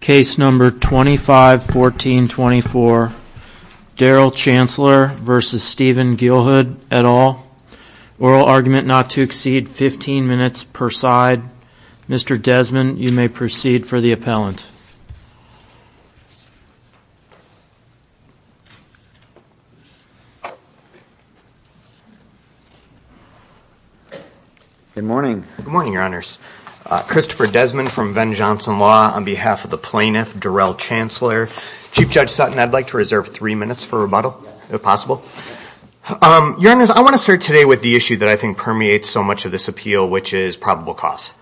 Case number 251424 Darrell Chancellor v. Stephen Geelhood et al. Oral argument not to exceed 15 minutes per side. Mr. Desmond, you may proceed for the appellant. Good morning. Good morning, Your Honors. Christopher Desmond from Venn Johnson Law on behalf of the plaintiff, Darrell Chancellor. Chief Judge Sutton, I'd like to reserve three minutes for rebuttal, if possible. Your Honors, I want to start today with the issue that I think permeates so much of this appeal, which is probable cause.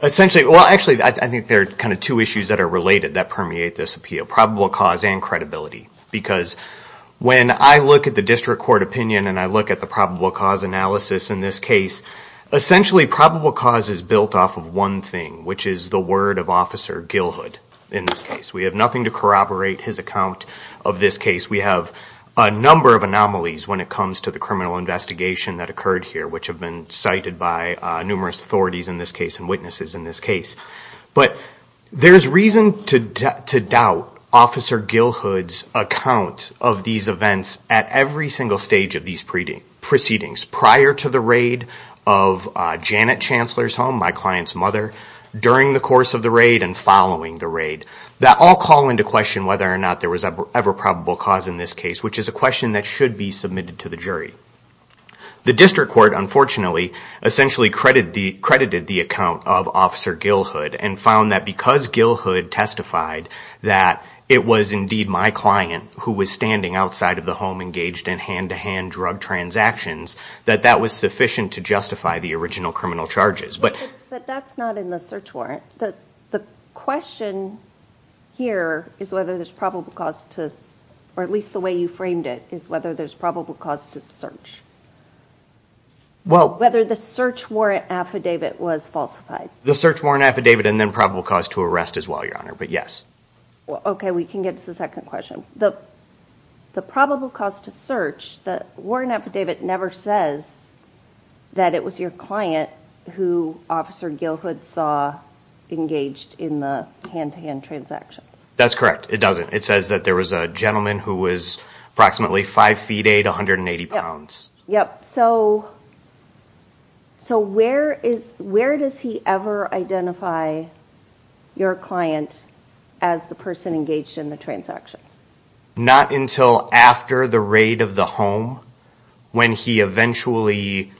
Essentially, well, actually, I think there are kind of two issues that are related that permeate this appeal, probable cause and credibility. Because when I look at the district court opinion and I look at the probable cause analysis in this case, essentially probable cause is built off of one thing, which is the word of Officer Geelhood in this case. We have nothing to corroborate his account of this case. We have a number of anomalies when it comes to the criminal investigation that occurred here, which have been cited by numerous authorities in this case and witnesses in this case. But there's reason to doubt Officer Geelhood's account of these events at every single stage of these proceedings, prior to the raid of Janet Chancellor's home, my client's mother, during the course of the raid and following the raid. That all call into question whether or not there was ever probable cause in this case, which is a question that should be submitted to the jury. The district court, unfortunately, essentially credited the account of Officer Geelhood and found that because Geelhood testified that it was indeed my client who was standing outside of the home, engaged in hand-to-hand drug transactions, that that was sufficient to justify the original criminal charges. But that's not in the search warrant. The question here is whether there's probable cause to, or at least the way you framed it, is whether there's probable cause to search. Whether the search warrant affidavit was falsified. The search warrant affidavit and then probable cause to arrest as well, Your Honor, but yes. Okay, we can get to the second question. The probable cause to search, the warrant affidavit never says that it was your client who Officer Geelhood saw engaged in the hand-to-hand transactions. That's correct, it doesn't. It says that there was a gentleman who was approximately 5 feet 8, 180 pounds. Yep, so where does he ever identify your client as the person engaged in the transactions? Not until after the raid of the home when he eventually...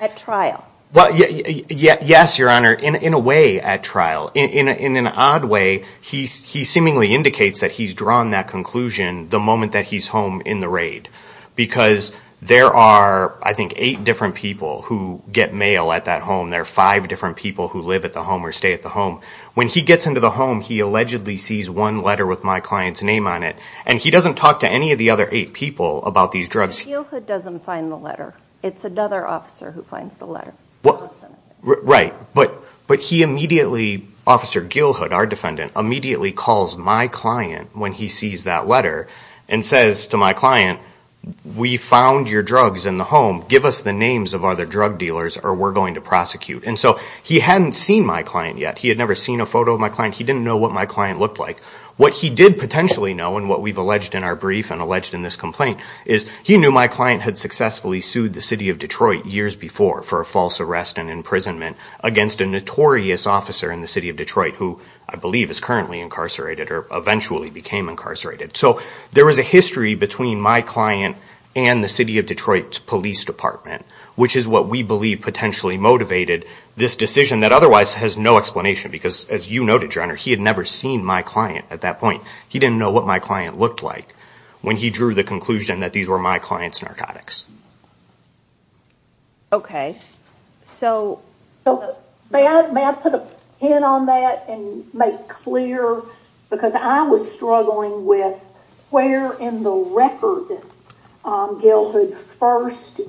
At trial? Yes, Your Honor, in a way at trial. In an odd way, he seemingly indicates that he's drawn that conclusion the moment that he's home in the raid because there are, I think, 8 different people who get mail at that home. There are 5 different people who live at the home or stay at the home. When he gets into the home, he allegedly sees one letter with my client's name on it and he doesn't talk to any of the other 8 people about these drugs. Geelhood doesn't find the letter. It's another officer who finds the letter. Right, but he immediately, Officer Geelhood, our defendant, immediately calls my client when he sees that letter and says to my client, we found your drugs in the home. Give us the names of other drug dealers or we're going to prosecute. And so he hadn't seen my client yet. He had never seen a photo of my client. He didn't know what my client looked like. What he did potentially know and what we've alleged in our brief and alleged in this complaint is he knew my client had successfully sued the city of Detroit years before for a false arrest and imprisonment against a notorious officer in the city of Detroit who I believe is currently incarcerated or eventually became incarcerated. So there is a history between my client and the city of Detroit's police department, which is what we believe potentially motivated this decision that otherwise has no explanation because as you noted, Your Honor, he had never seen my client at that point. He didn't know what my client looked like when he drew the conclusion that these were my client's narcotics. Okay. So may I put a pin on that and make clear because I was struggling with where in the record Gilhood first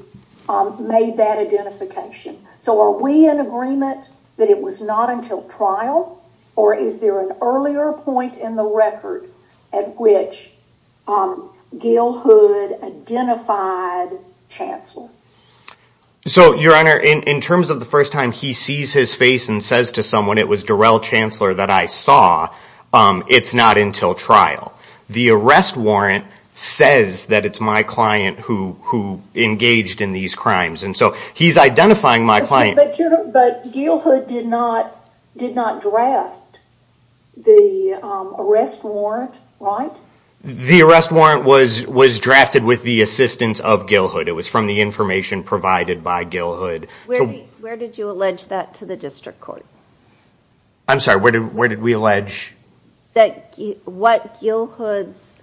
made that identification. So are we in agreement that it was not until trial or is there an earlier point in the record at which Gilhood identified Chancellor? So, Your Honor, in terms of the first time he sees his face and says to someone it was Darrell Chancellor that I saw, it's not until trial. The arrest warrant says that it's my client who engaged in these crimes. And so he's identifying my client. But Gilhood did not draft the arrest warrant, right? The arrest warrant was drafted with the assistance of Gilhood. It was from the information provided by Gilhood. Where did you allege that to the district court? I'm sorry, where did we allege? What Gilhood's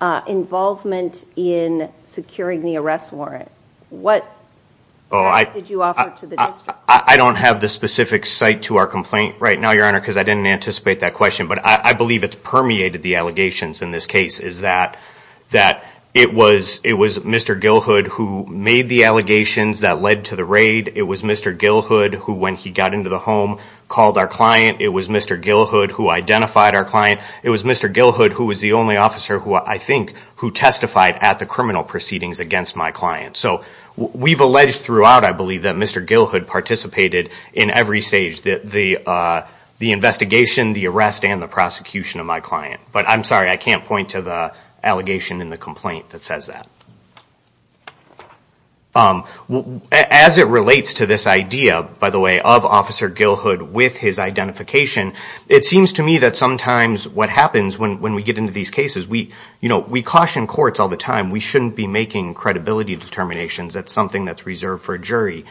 involvement in securing the arrest warrant. I don't have the specific site to our complaint right now, Your Honor, because I didn't anticipate that question. But I believe it's permeated the allegations in this case, is that it was Mr. Gilhood who made the allegations that led to the raid. It was Mr. Gilhood who, when he got into the home, called our client. It was Mr. Gilhood who identified our client. It was Mr. Gilhood who was the only officer who, I think, who testified at the criminal proceedings against my client. So we've alleged throughout, I believe, that Mr. Gilhood participated in every stage, the investigation, the arrest, and the prosecution of my client. But I'm sorry, I can't point to the allegation in the complaint that says that. As it relates to this idea, by the way, of Officer Gilhood with his identification, it seems to me that sometimes what happens when we get into these cases, we caution courts all the time. We shouldn't be making credibility determinations. That's something that's reserved for a jury.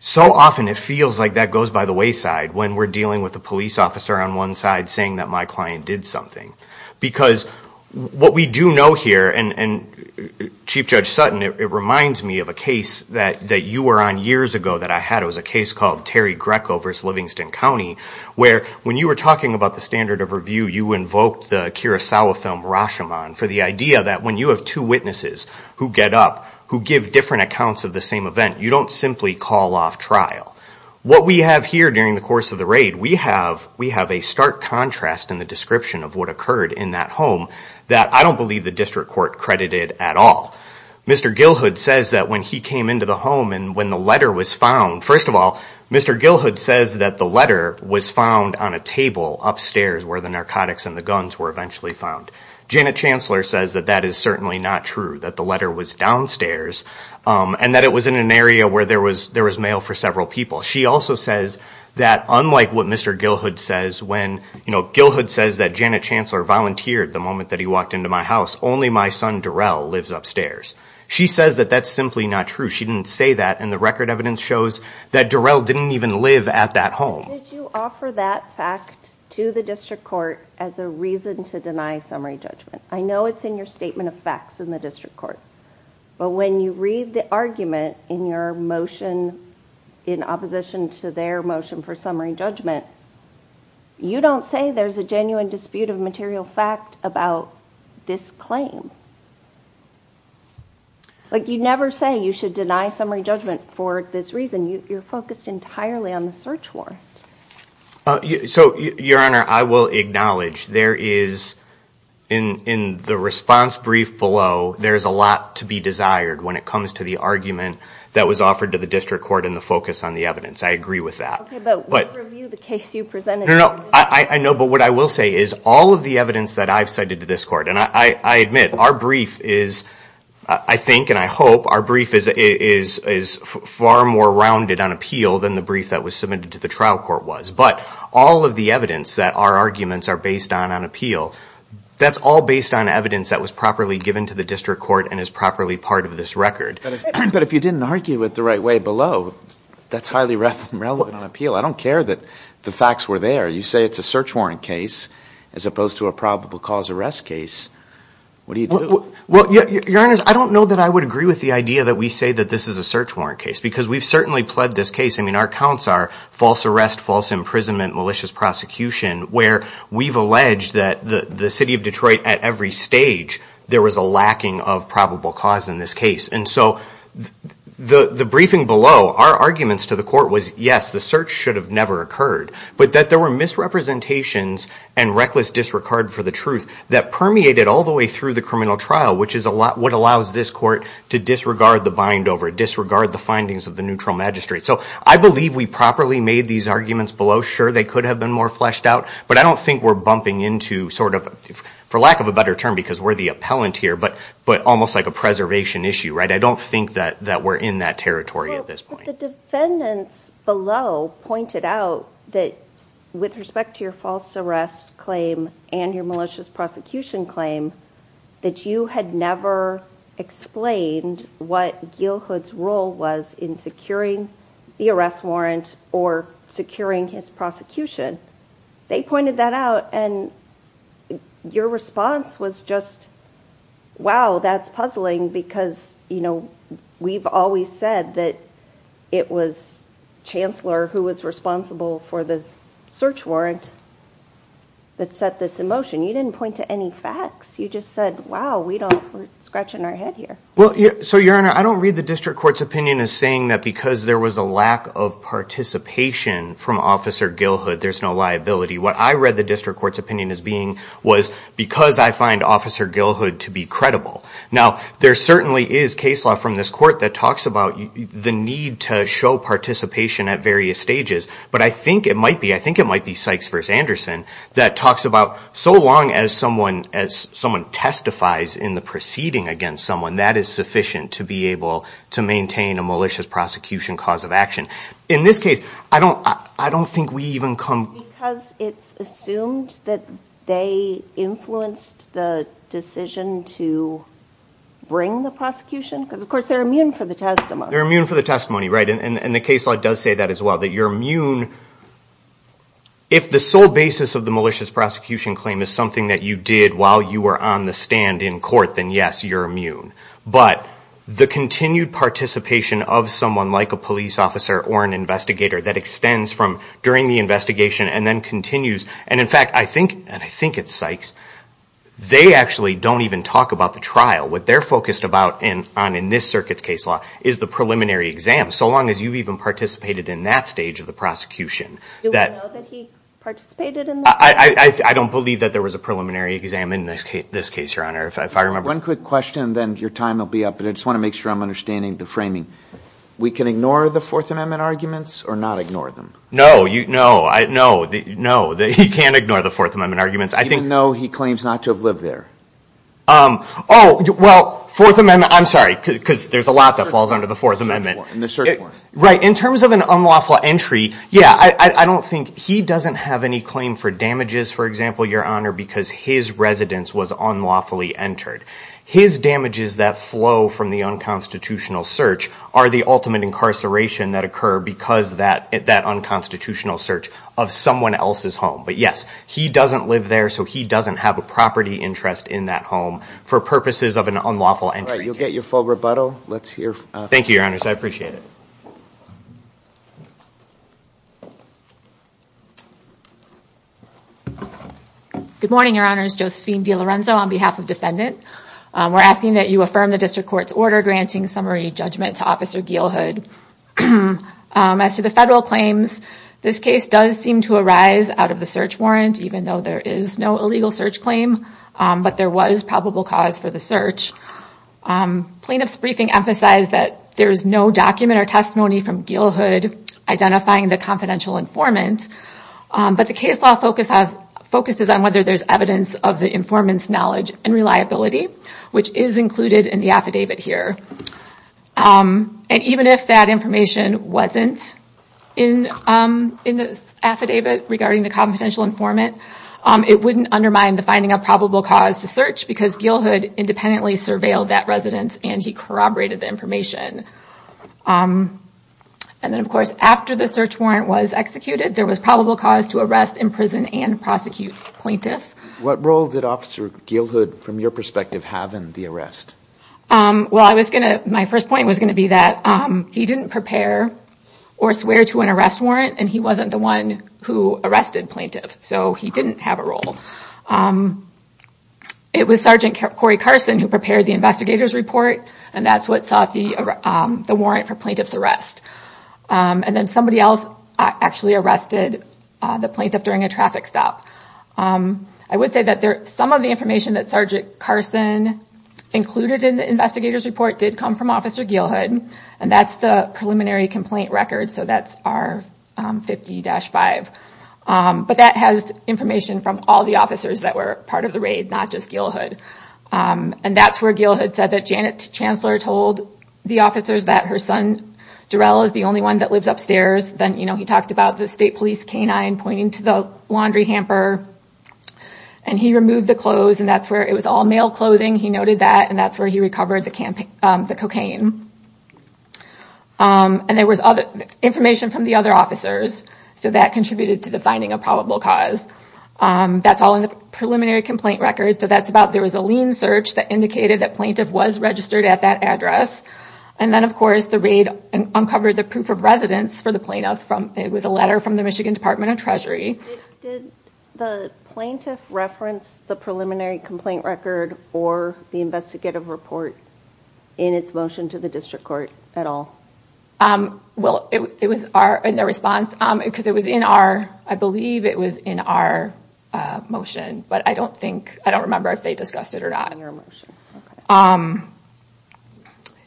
So often it feels like that goes by the wayside when we're dealing with a police officer on one side saying that my client did something. Because what we do know here, and Chief Judge Sutton, it reminds me of a case that you were on years ago that I had. It was a case called Terry Greco v. Livingston County, where when you were talking about the standard of review, you invoked the Kurosawa film Rashomon for the idea that when you have two witnesses who get up, who give different accounts of the same event, you don't simply call off trial. What we have here during the course of the raid, we have a stark contrast in the description of what occurred in that home that I don't believe the district court credited at all. Mr. Gilhood says that when he came into the home and when the letter was found, first of all, Mr. Gilhood says that the letter was found on a table upstairs where the narcotics and the guns were eventually found. Janet Chancellor says that that is certainly not true, that the letter was downstairs, and that it was in an area where there was mail for several people. She also says that unlike what Mr. Gilhood says, when Gilhood says that Janet Chancellor volunteered the moment that he walked into my house, only my son Darrell lives upstairs. She says that that's simply not true. She didn't say that, and the record evidence shows that Darrell didn't even live at that home. Did you offer that fact to the district court as a reason to deny summary judgment? I know it's in your statement of facts in the district court, but when you read the argument in your motion in opposition to their motion for summary judgment, you don't say there's a genuine dispute of material fact about this claim. Like, you never say you should deny summary judgment for this reason. You're focused entirely on the search warrant. So, Your Honor, I will acknowledge there is, in the response brief below, there is a lot to be desired when it comes to the argument that was offered to the district court and the focus on the evidence. I agree with that. Okay, but we'll review the case you presented. No, no, I know, but what I will say is all of the evidence that I've cited to this court, and I admit, our brief is, I think and I hope, our brief is far more rounded on appeal than the brief that was submitted to the trial court was. But all of the evidence that our arguments are based on on appeal, that's all based on evidence that was properly given to the district court and is properly part of this record. But if you didn't argue it the right way below, that's highly irrelevant on appeal. I don't care that the facts were there. You say it's a search warrant case as opposed to a probable cause arrest case. What do you do? Well, Your Honor, I don't know that I would agree with the idea that we say that this is a search warrant case because we've certainly pled this case. I mean, our counts are false arrest, false imprisonment, malicious prosecution, where we've alleged that the city of Detroit, at every stage, there was a lacking of probable cause in this case. And so the briefing below, our arguments to the court was, yes, the search should have never occurred, but that there were misrepresentations and reckless disregard for the truth that permeated all the way through the criminal trial, which is what allows this court to disregard the bind over, disregard the findings of the neutral magistrate. So I believe we properly made these arguments below. Sure, they could have been more fleshed out, but I don't think we're bumping into sort of, for lack of a better term, because we're the appellant here, but almost like a preservation issue, right? I don't think that we're in that territory at this point. The defendants below pointed out that, with respect to your false arrest claim and your malicious prosecution claim, that you had never explained what Gilhood's role was in securing the arrest warrant or securing his prosecution. They pointed that out, and your response was just, wow, that's puzzling because we've always said that it was Chancellor who was responsible for the search warrant that set this in motion. You didn't point to any facts. You just said, wow, we're scratching our head here. So, Your Honor, I don't read the district court's opinion as saying that because there was a lack of participation from Officer Gilhood, there's no liability. What I read the district court's opinion as being was, because I find Officer Gilhood to be credible. Now, there certainly is case law from this court that talks about the need to show participation at various stages, but I think it might be, I think it might be Sykes v. Anderson that talks about, so long as someone testifies in the proceeding against someone, that is sufficient to be able to maintain a malicious prosecution cause of action. In this case, I don't think we even come... Because it's assumed that they influenced the decision to bring the prosecution? Because, of course, they're immune for the testimony. They're immune for the testimony, right, and the case law does say that as well, that you're immune if the sole basis of the malicious prosecution claim is something that you did while you were on the stand in court, then, yes, you're immune. But the continued participation of someone like a police officer or an investigator that extends from during the investigation and then continues, and, in fact, I think, and I think it's Sykes, they actually don't even talk about the trial. What they're focused about on in this circuit's case law is the preliminary exam, so long as you've even participated in that stage of the prosecution. Do we know that he participated in this? I don't believe that there was a preliminary exam in this case, Your Honor, if I remember. One quick question, then your time will be up, but I just want to make sure I'm understanding the framing. We can ignore the Fourth Amendment arguments or not ignore them? No, no, no, he can't ignore the Fourth Amendment arguments. Even though he claims not to have lived there? Oh, well, Fourth Amendment, I'm sorry, because there's a lot that falls under the Fourth Amendment. In the search warrant. Right, in terms of an unlawful entry, yeah, I don't think, he doesn't have any claim for damages, for example, Your Honor, because his residence was unlawfully entered. His damages that flow from the unconstitutional search are the ultimate incarceration that occur because that unconstitutional search of someone else's home. But yes, he doesn't live there, so he doesn't have a property interest in that home for purposes of an unlawful entry. All right, you'll get your full rebuttal. Thank you, Your Honors, I appreciate it. Good morning, Your Honors. Josephine DeLorenzo on behalf of defendant. We're asking that you affirm the district court's order granting summary judgment to Officer Gealhood. As to the federal claims, this case does seem to arise out of the search warrant, even though there is no illegal search claim, but there was probable cause for the search. Plaintiff's briefing emphasized that there is no document or testimony from Gealhood identifying the confidential informant, but the case law focuses on whether there's evidence of the informant's knowledge and reliability, which is included in the affidavit here. And even if that information wasn't in the affidavit regarding the confidential informant, it wouldn't undermine the finding of probable cause to search because Gealhood independently surveilled that residence and he corroborated the information. And then, of course, after the search warrant was executed, there was probable cause to arrest, imprison, and prosecute plaintiff. What role did Officer Gealhood, from your perspective, have in the arrest? Well, my first point was going to be that he didn't prepare or swear to an arrest warrant, and he wasn't the one who arrested plaintiff, so he didn't have a role. It was Sergeant Corey Carson who prepared the investigator's report, and that's what sought the warrant for plaintiff's arrest. And then somebody else actually arrested the plaintiff during a traffic stop. I would say that some of the information that Sergeant Carson included in the investigator's report did come from Officer Gealhood, and that's the preliminary complaint record, so that's R50-5. But that has information from all the officers that were part of the raid, not just Gealhood. And that's where Gealhood said that Janet Chancellor told the officers that her son Darrell is the only one that lives upstairs. Then he talked about the state police canine pointing to the laundry hamper, and he removed the clothes, and that's where it was all male clothing. He noted that, and that's where he recovered the cocaine. And there was information from the other officers, so that contributed to the finding of probable cause. That's all in the preliminary complaint record. There was a lean search that indicated that plaintiff was registered at that address. And then, of course, the raid uncovered the proof of residence for the plaintiffs. It was a letter from the Michigan Department of Treasury. Did the plaintiff reference the preliminary complaint record or the investigative report in its motion to the district court at all? Well, it was in the response, because it was in our, I believe it was in our motion, but I don't think, I don't remember if they discussed it or not.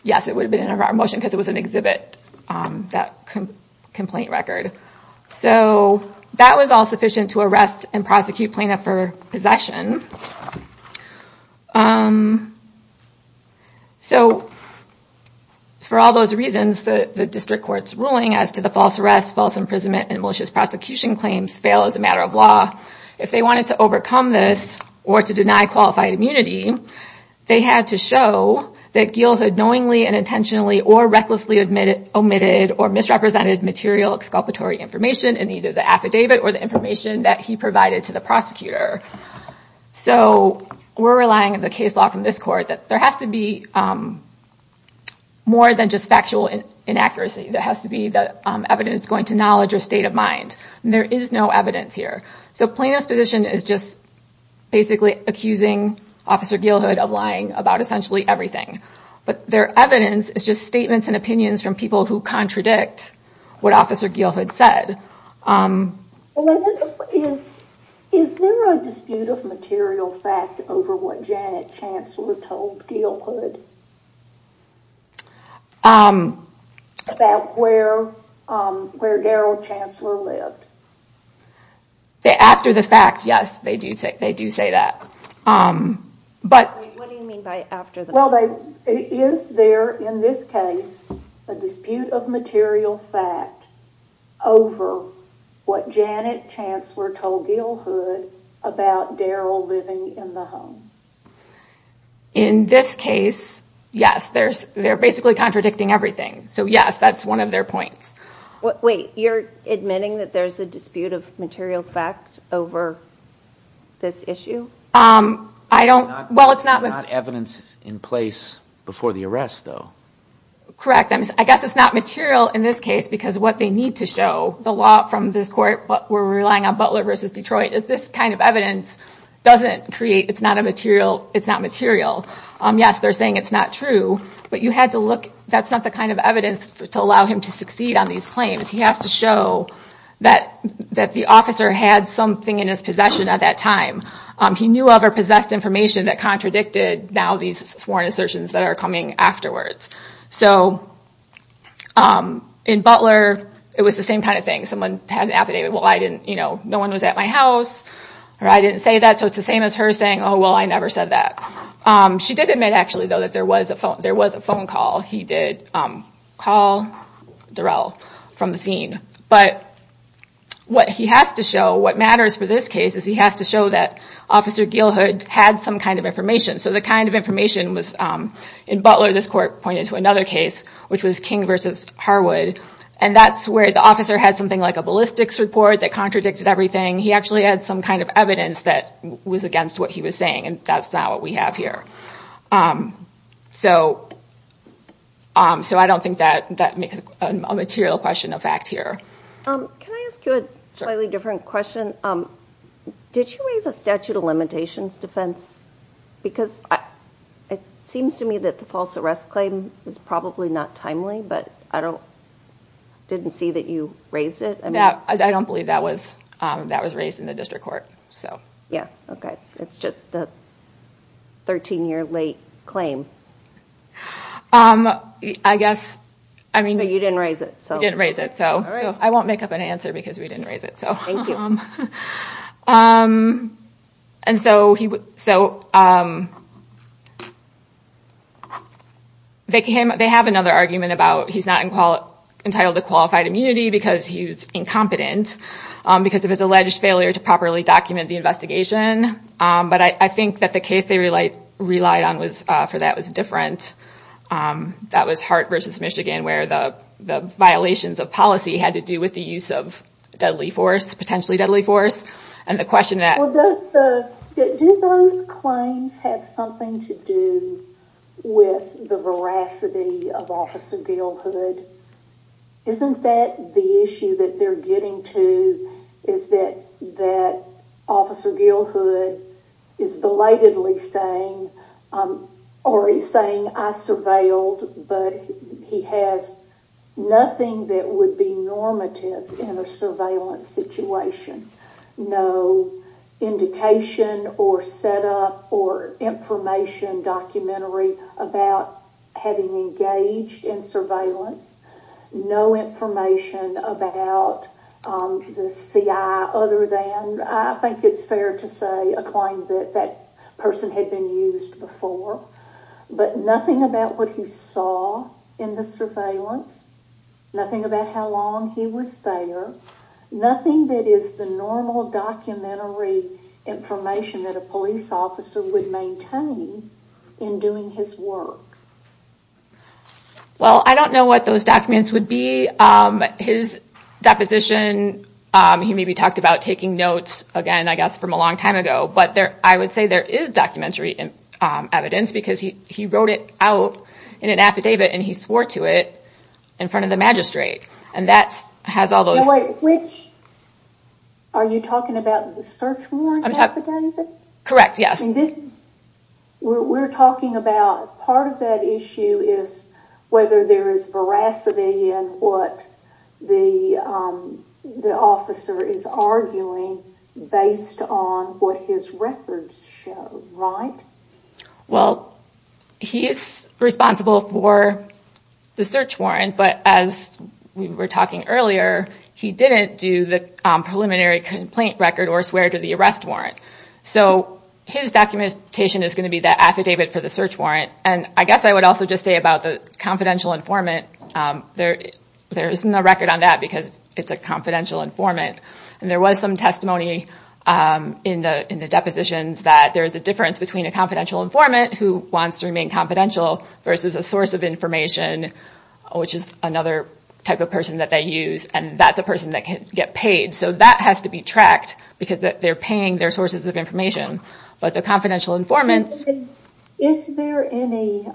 Yes, it would have been in our motion, because it was an exhibit, that complaint record. So that was all sufficient to arrest and prosecute plaintiff for possession. So for all those reasons, the district court's ruling as to the false arrest, false imprisonment, and malicious prosecution claims fail as a matter of law. If they wanted to overcome this or to deny qualified immunity, they had to show that Geale had knowingly and intentionally or recklessly omitted or misrepresented material exculpatory information in either the affidavit or the information that he provided to the prosecutor. So we're relying on the case law from this court that there has to be more than just factual inaccuracy. There has to be the evidence going to knowledge or state of mind. And there is no evidence here. So plaintiff's position is just basically accusing Officer Geale Hood of lying about essentially everything. But their evidence is just statements and opinions from people who contradict what Officer Geale Hood said. Is there a dispute of material fact over what Janet Chancellor told Geale Hood about where Daryl Chancellor lived? After the fact, yes, they do say that. What do you mean by after the fact? Well, is there in this case a dispute of material fact over what Janet Chancellor told Geale Hood about Daryl living in the home? In this case, yes, they're basically contradicting everything. So, yes, that's one of their points. Wait, you're admitting that there's a dispute of material fact over this issue? There's not evidence in place before the arrest, though. Correct. I guess it's not material in this case because what they need to show, the law from this court, we're relying on Butler v. Detroit, is this kind of evidence doesn't create, it's not material. Yes, they're saying it's not true, but you had to look, that's not the kind of evidence to allow him to succeed on these claims. He has to show that the officer had something in his possession at that time. He knew of or possessed information that contradicted now these sworn assertions that are coming afterwards. So in Butler, it was the same kind of thing. Someone had an affidavit, well, I didn't, you know, no one was at my house, or I didn't say that. So it's the same as her saying, oh, well, I never said that. She did admit, actually, though, that there was a phone call. He did call Daryl from the scene. But what he has to show, what matters for this case, is he has to show that Officer Gilhood had some kind of information. So the kind of information was in Butler, this court pointed to another case, which was King v. Harwood. And that's where the officer had something like a ballistics report that contradicted everything. He actually had some kind of evidence that was against what he was saying. And that's not what we have here. So I don't think that makes a material question of fact here. Can I ask you a slightly different question? Did you raise a statute of limitations defense? Because it seems to me that the false arrest claim is probably not timely, but I didn't see that you raised it. I don't believe that was raised in the district court. Okay, it's just a 13-year late claim. I guess, I mean... But you didn't raise it. I didn't raise it, so I won't make up an answer because we didn't raise it. Thank you. They have another argument about he's not entitled to qualified immunity because he was incompetent. Because of his alleged failure to properly document the investigation. But I think that the case they relied on for that was different. That was Hart v. Michigan where the violations of policy had to do with the use of deadly force, potentially deadly force. And the question that... Well, do those claims have something to do with the veracity of Officer Gale Hood? Isn't that the issue that they're getting to? Is that Officer Gale Hood is belatedly saying, or he's saying I surveilled, but he has nothing that would be normative in a surveillance situation. No indication or setup or information documentary about having engaged in surveillance. No information about the CI other than, I think it's fair to say, a claim that that person had been used before. But nothing about what he saw in the surveillance. Nothing about how long he was there. Nothing that is the normal documentary information that a police officer would maintain in doing his work. Well, I don't know what those documents would be. His deposition, he maybe talked about taking notes again, I guess, from a long time ago. But I would say there is documentary evidence because he wrote it out in an affidavit and he swore to it in front of the magistrate. Are you talking about the search warrant affidavit? Correct, yes. We're talking about part of that issue is whether there is veracity in what the officer is arguing based on what his records show, right? Well, he is responsible for the search warrant, but as we were talking earlier, he didn't do the preliminary complaint record or swear to the arrest warrant. So his documentation is going to be the affidavit for the search warrant. And I guess I would also just say about the confidential informant, there isn't a record on that because it's a confidential informant. And there was some testimony in the depositions that there is a difference between a confidential informant who wants to remain confidential versus a source of information, which is another type of person that they use, and that's a person that can get paid. So that has to be tracked because they're paying their sources of information. Is there any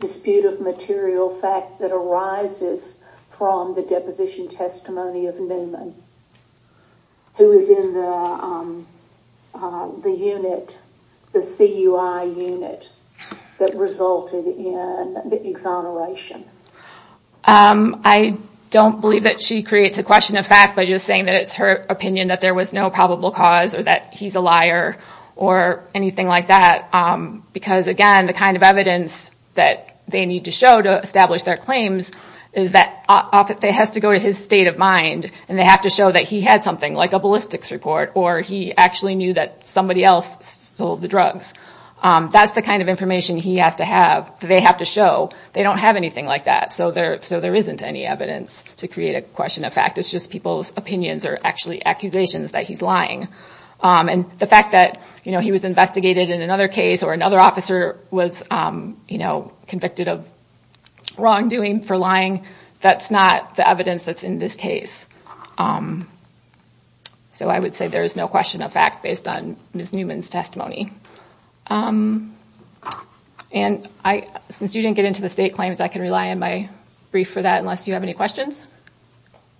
dispute of material fact that arises from the deposition testimony of Newman, who is in the unit, the CUI unit, that resulted in the exoneration? I don't believe that she creates a question of fact by just saying that it's her opinion that there was no probable cause or that he's a liar or anything like that. Because, again, the kind of evidence that they need to show to establish their claims is that it has to go to his state of mind. And they have to show that he had something like a ballistics report or he actually knew that somebody else stole the drugs. That's the kind of information they have to show. They don't have anything like that, so there isn't any evidence to create a question of fact. It's just people's opinions or actually accusations that he's lying. And the fact that he was investigated in another case or another officer was convicted of wrongdoing for lying, that's not the evidence that's in this case. So I would say there is no question of fact based on Ms. Newman's testimony. And since you didn't get into the state claims, I can rely on my brief for that unless you have any questions.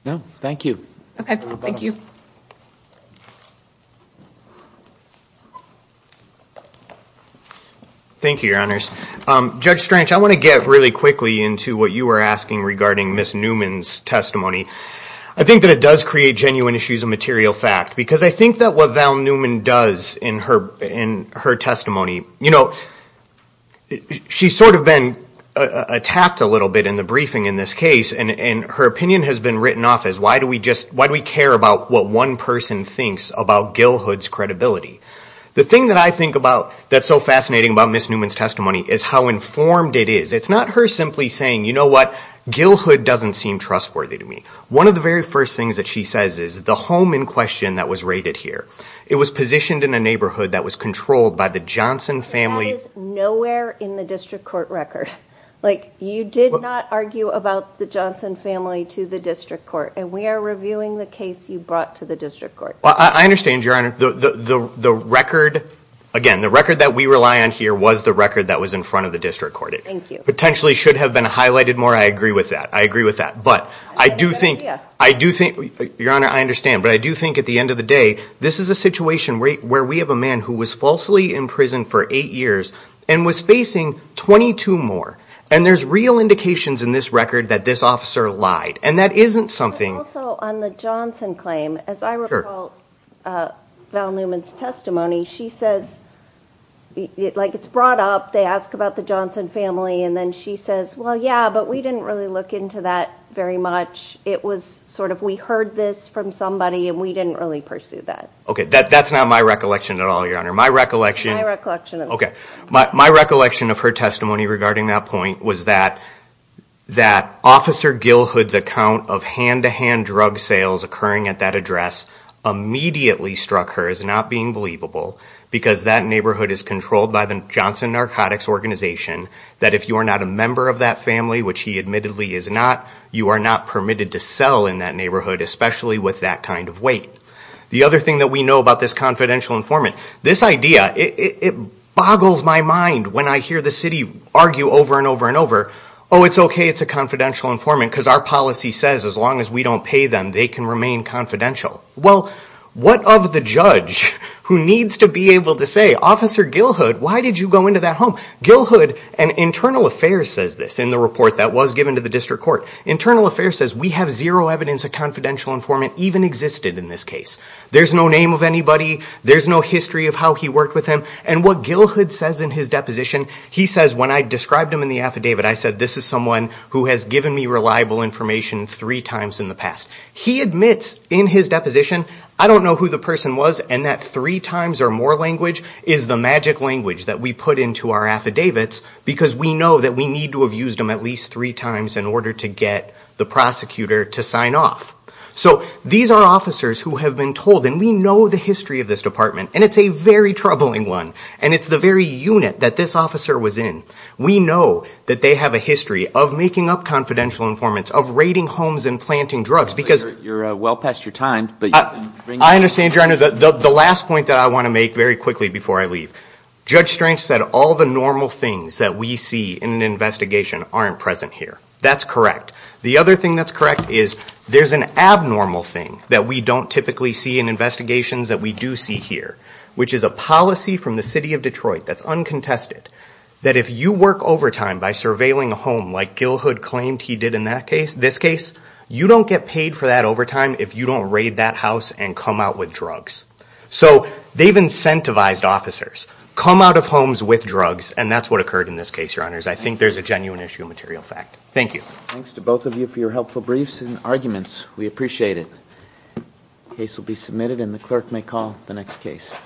No, thank you. Okay, thank you. Thank you, Your Honors. Judge Strange, I want to get really quickly into what you were asking regarding Ms. Newman's testimony. I think that it does create genuine issues of material fact. Because I think that what Val Newman does in her testimony, you know, she's sort of been attacked a little bit in the briefing in this case. And her opinion has been written off as why do we care about what one person thinks about Gilhood's credibility. The thing that I think about that's so fascinating about Ms. Newman's testimony is how informed it is. It's not her simply saying, you know what, Gilhood doesn't seem trustworthy to me. One of the very first things that she says is the home in question that was raided here, it was positioned in a neighborhood that was controlled by the Johnson family. That is nowhere in the district court record. Like, you did not argue about the Johnson family to the district court. And we are reviewing the case you brought to the district court. Well, I understand, Your Honor. The record, again, the record that we rely on here was the record that was in front of the district court. Thank you. It potentially should have been highlighted more. I agree with that. I agree with that. But I do think, Your Honor, I understand. But I do think at the end of the day, this is a situation where we have a man who was falsely in prison for eight years and was facing 22 more. And there's real indications in this record that this officer lied. And that isn't something. Also, on the Johnson claim, as I recall Val Newman's testimony, she says, like, it's brought up. They ask about the Johnson family. And then she says, well, yeah, but we didn't really look into that very much. It was sort of we heard this from somebody and we didn't really pursue that. Okay. That's not my recollection at all, Your Honor. My recollection. My recollection. Okay. My recollection of her testimony regarding that point was that Officer Gilhood's account of hand-to-hand drug sales occurring at that address immediately struck her as not being believable because that neighborhood is controlled by the Johnson Narcotics Organization that if you are not a member of that family, which he admittedly is not, you are not permitted to sell in that neighborhood, especially with that kind of weight. The other thing that we know about this confidential informant, this idea, it boggles my mind when I hear the city argue over and over and over, oh, it's okay, it's a confidential informant because our policy says as long as we don't pay them, they can remain confidential. Well, what of the judge who needs to be able to say, Officer Gilhood, why did you go into that home? Gilhood, and Internal Affairs says this in the report that was given to the district court, Internal Affairs says we have zero evidence a confidential informant even existed in this case. There's no name of anybody. There's no history of how he worked with him. And what Gilhood says in his deposition, he says when I described him in the affidavit, I said this is someone who has given me reliable information three times in the past. He admits in his deposition, I don't know who the person was, and that three times or more language is the magic language that we put into our affidavits because we know that we need to have used them at least three times in order to get the prosecutor to sign off. So these are officers who have been told, and we know the history of this department, and it's a very troubling one, and it's the very unit that this officer was in. We know that they have a history of making up confidential informants, of raiding homes and planting drugs because you're well past your time. I understand, Your Honor. The last point that I want to make very quickly before I leave, Judge Strange said all the normal things that we see in an investigation aren't present here. That's correct. The other thing that's correct is there's an abnormal thing that we don't typically see in investigations that we do see here, which is a policy from the city of Detroit that's uncontested, that if you work overtime by surveilling a home like Gilhood claimed he did in this case, you don't get paid for that overtime if you don't raid that house and come out with drugs. So they've incentivized officers. Come out of homes with drugs, and that's what occurred in this case, Your Honors. I think there's a genuine issue of material fact. Thank you. Thanks to both of you for your helpful briefs and arguments. We appreciate it. The case will be submitted, and the clerk may call the next case.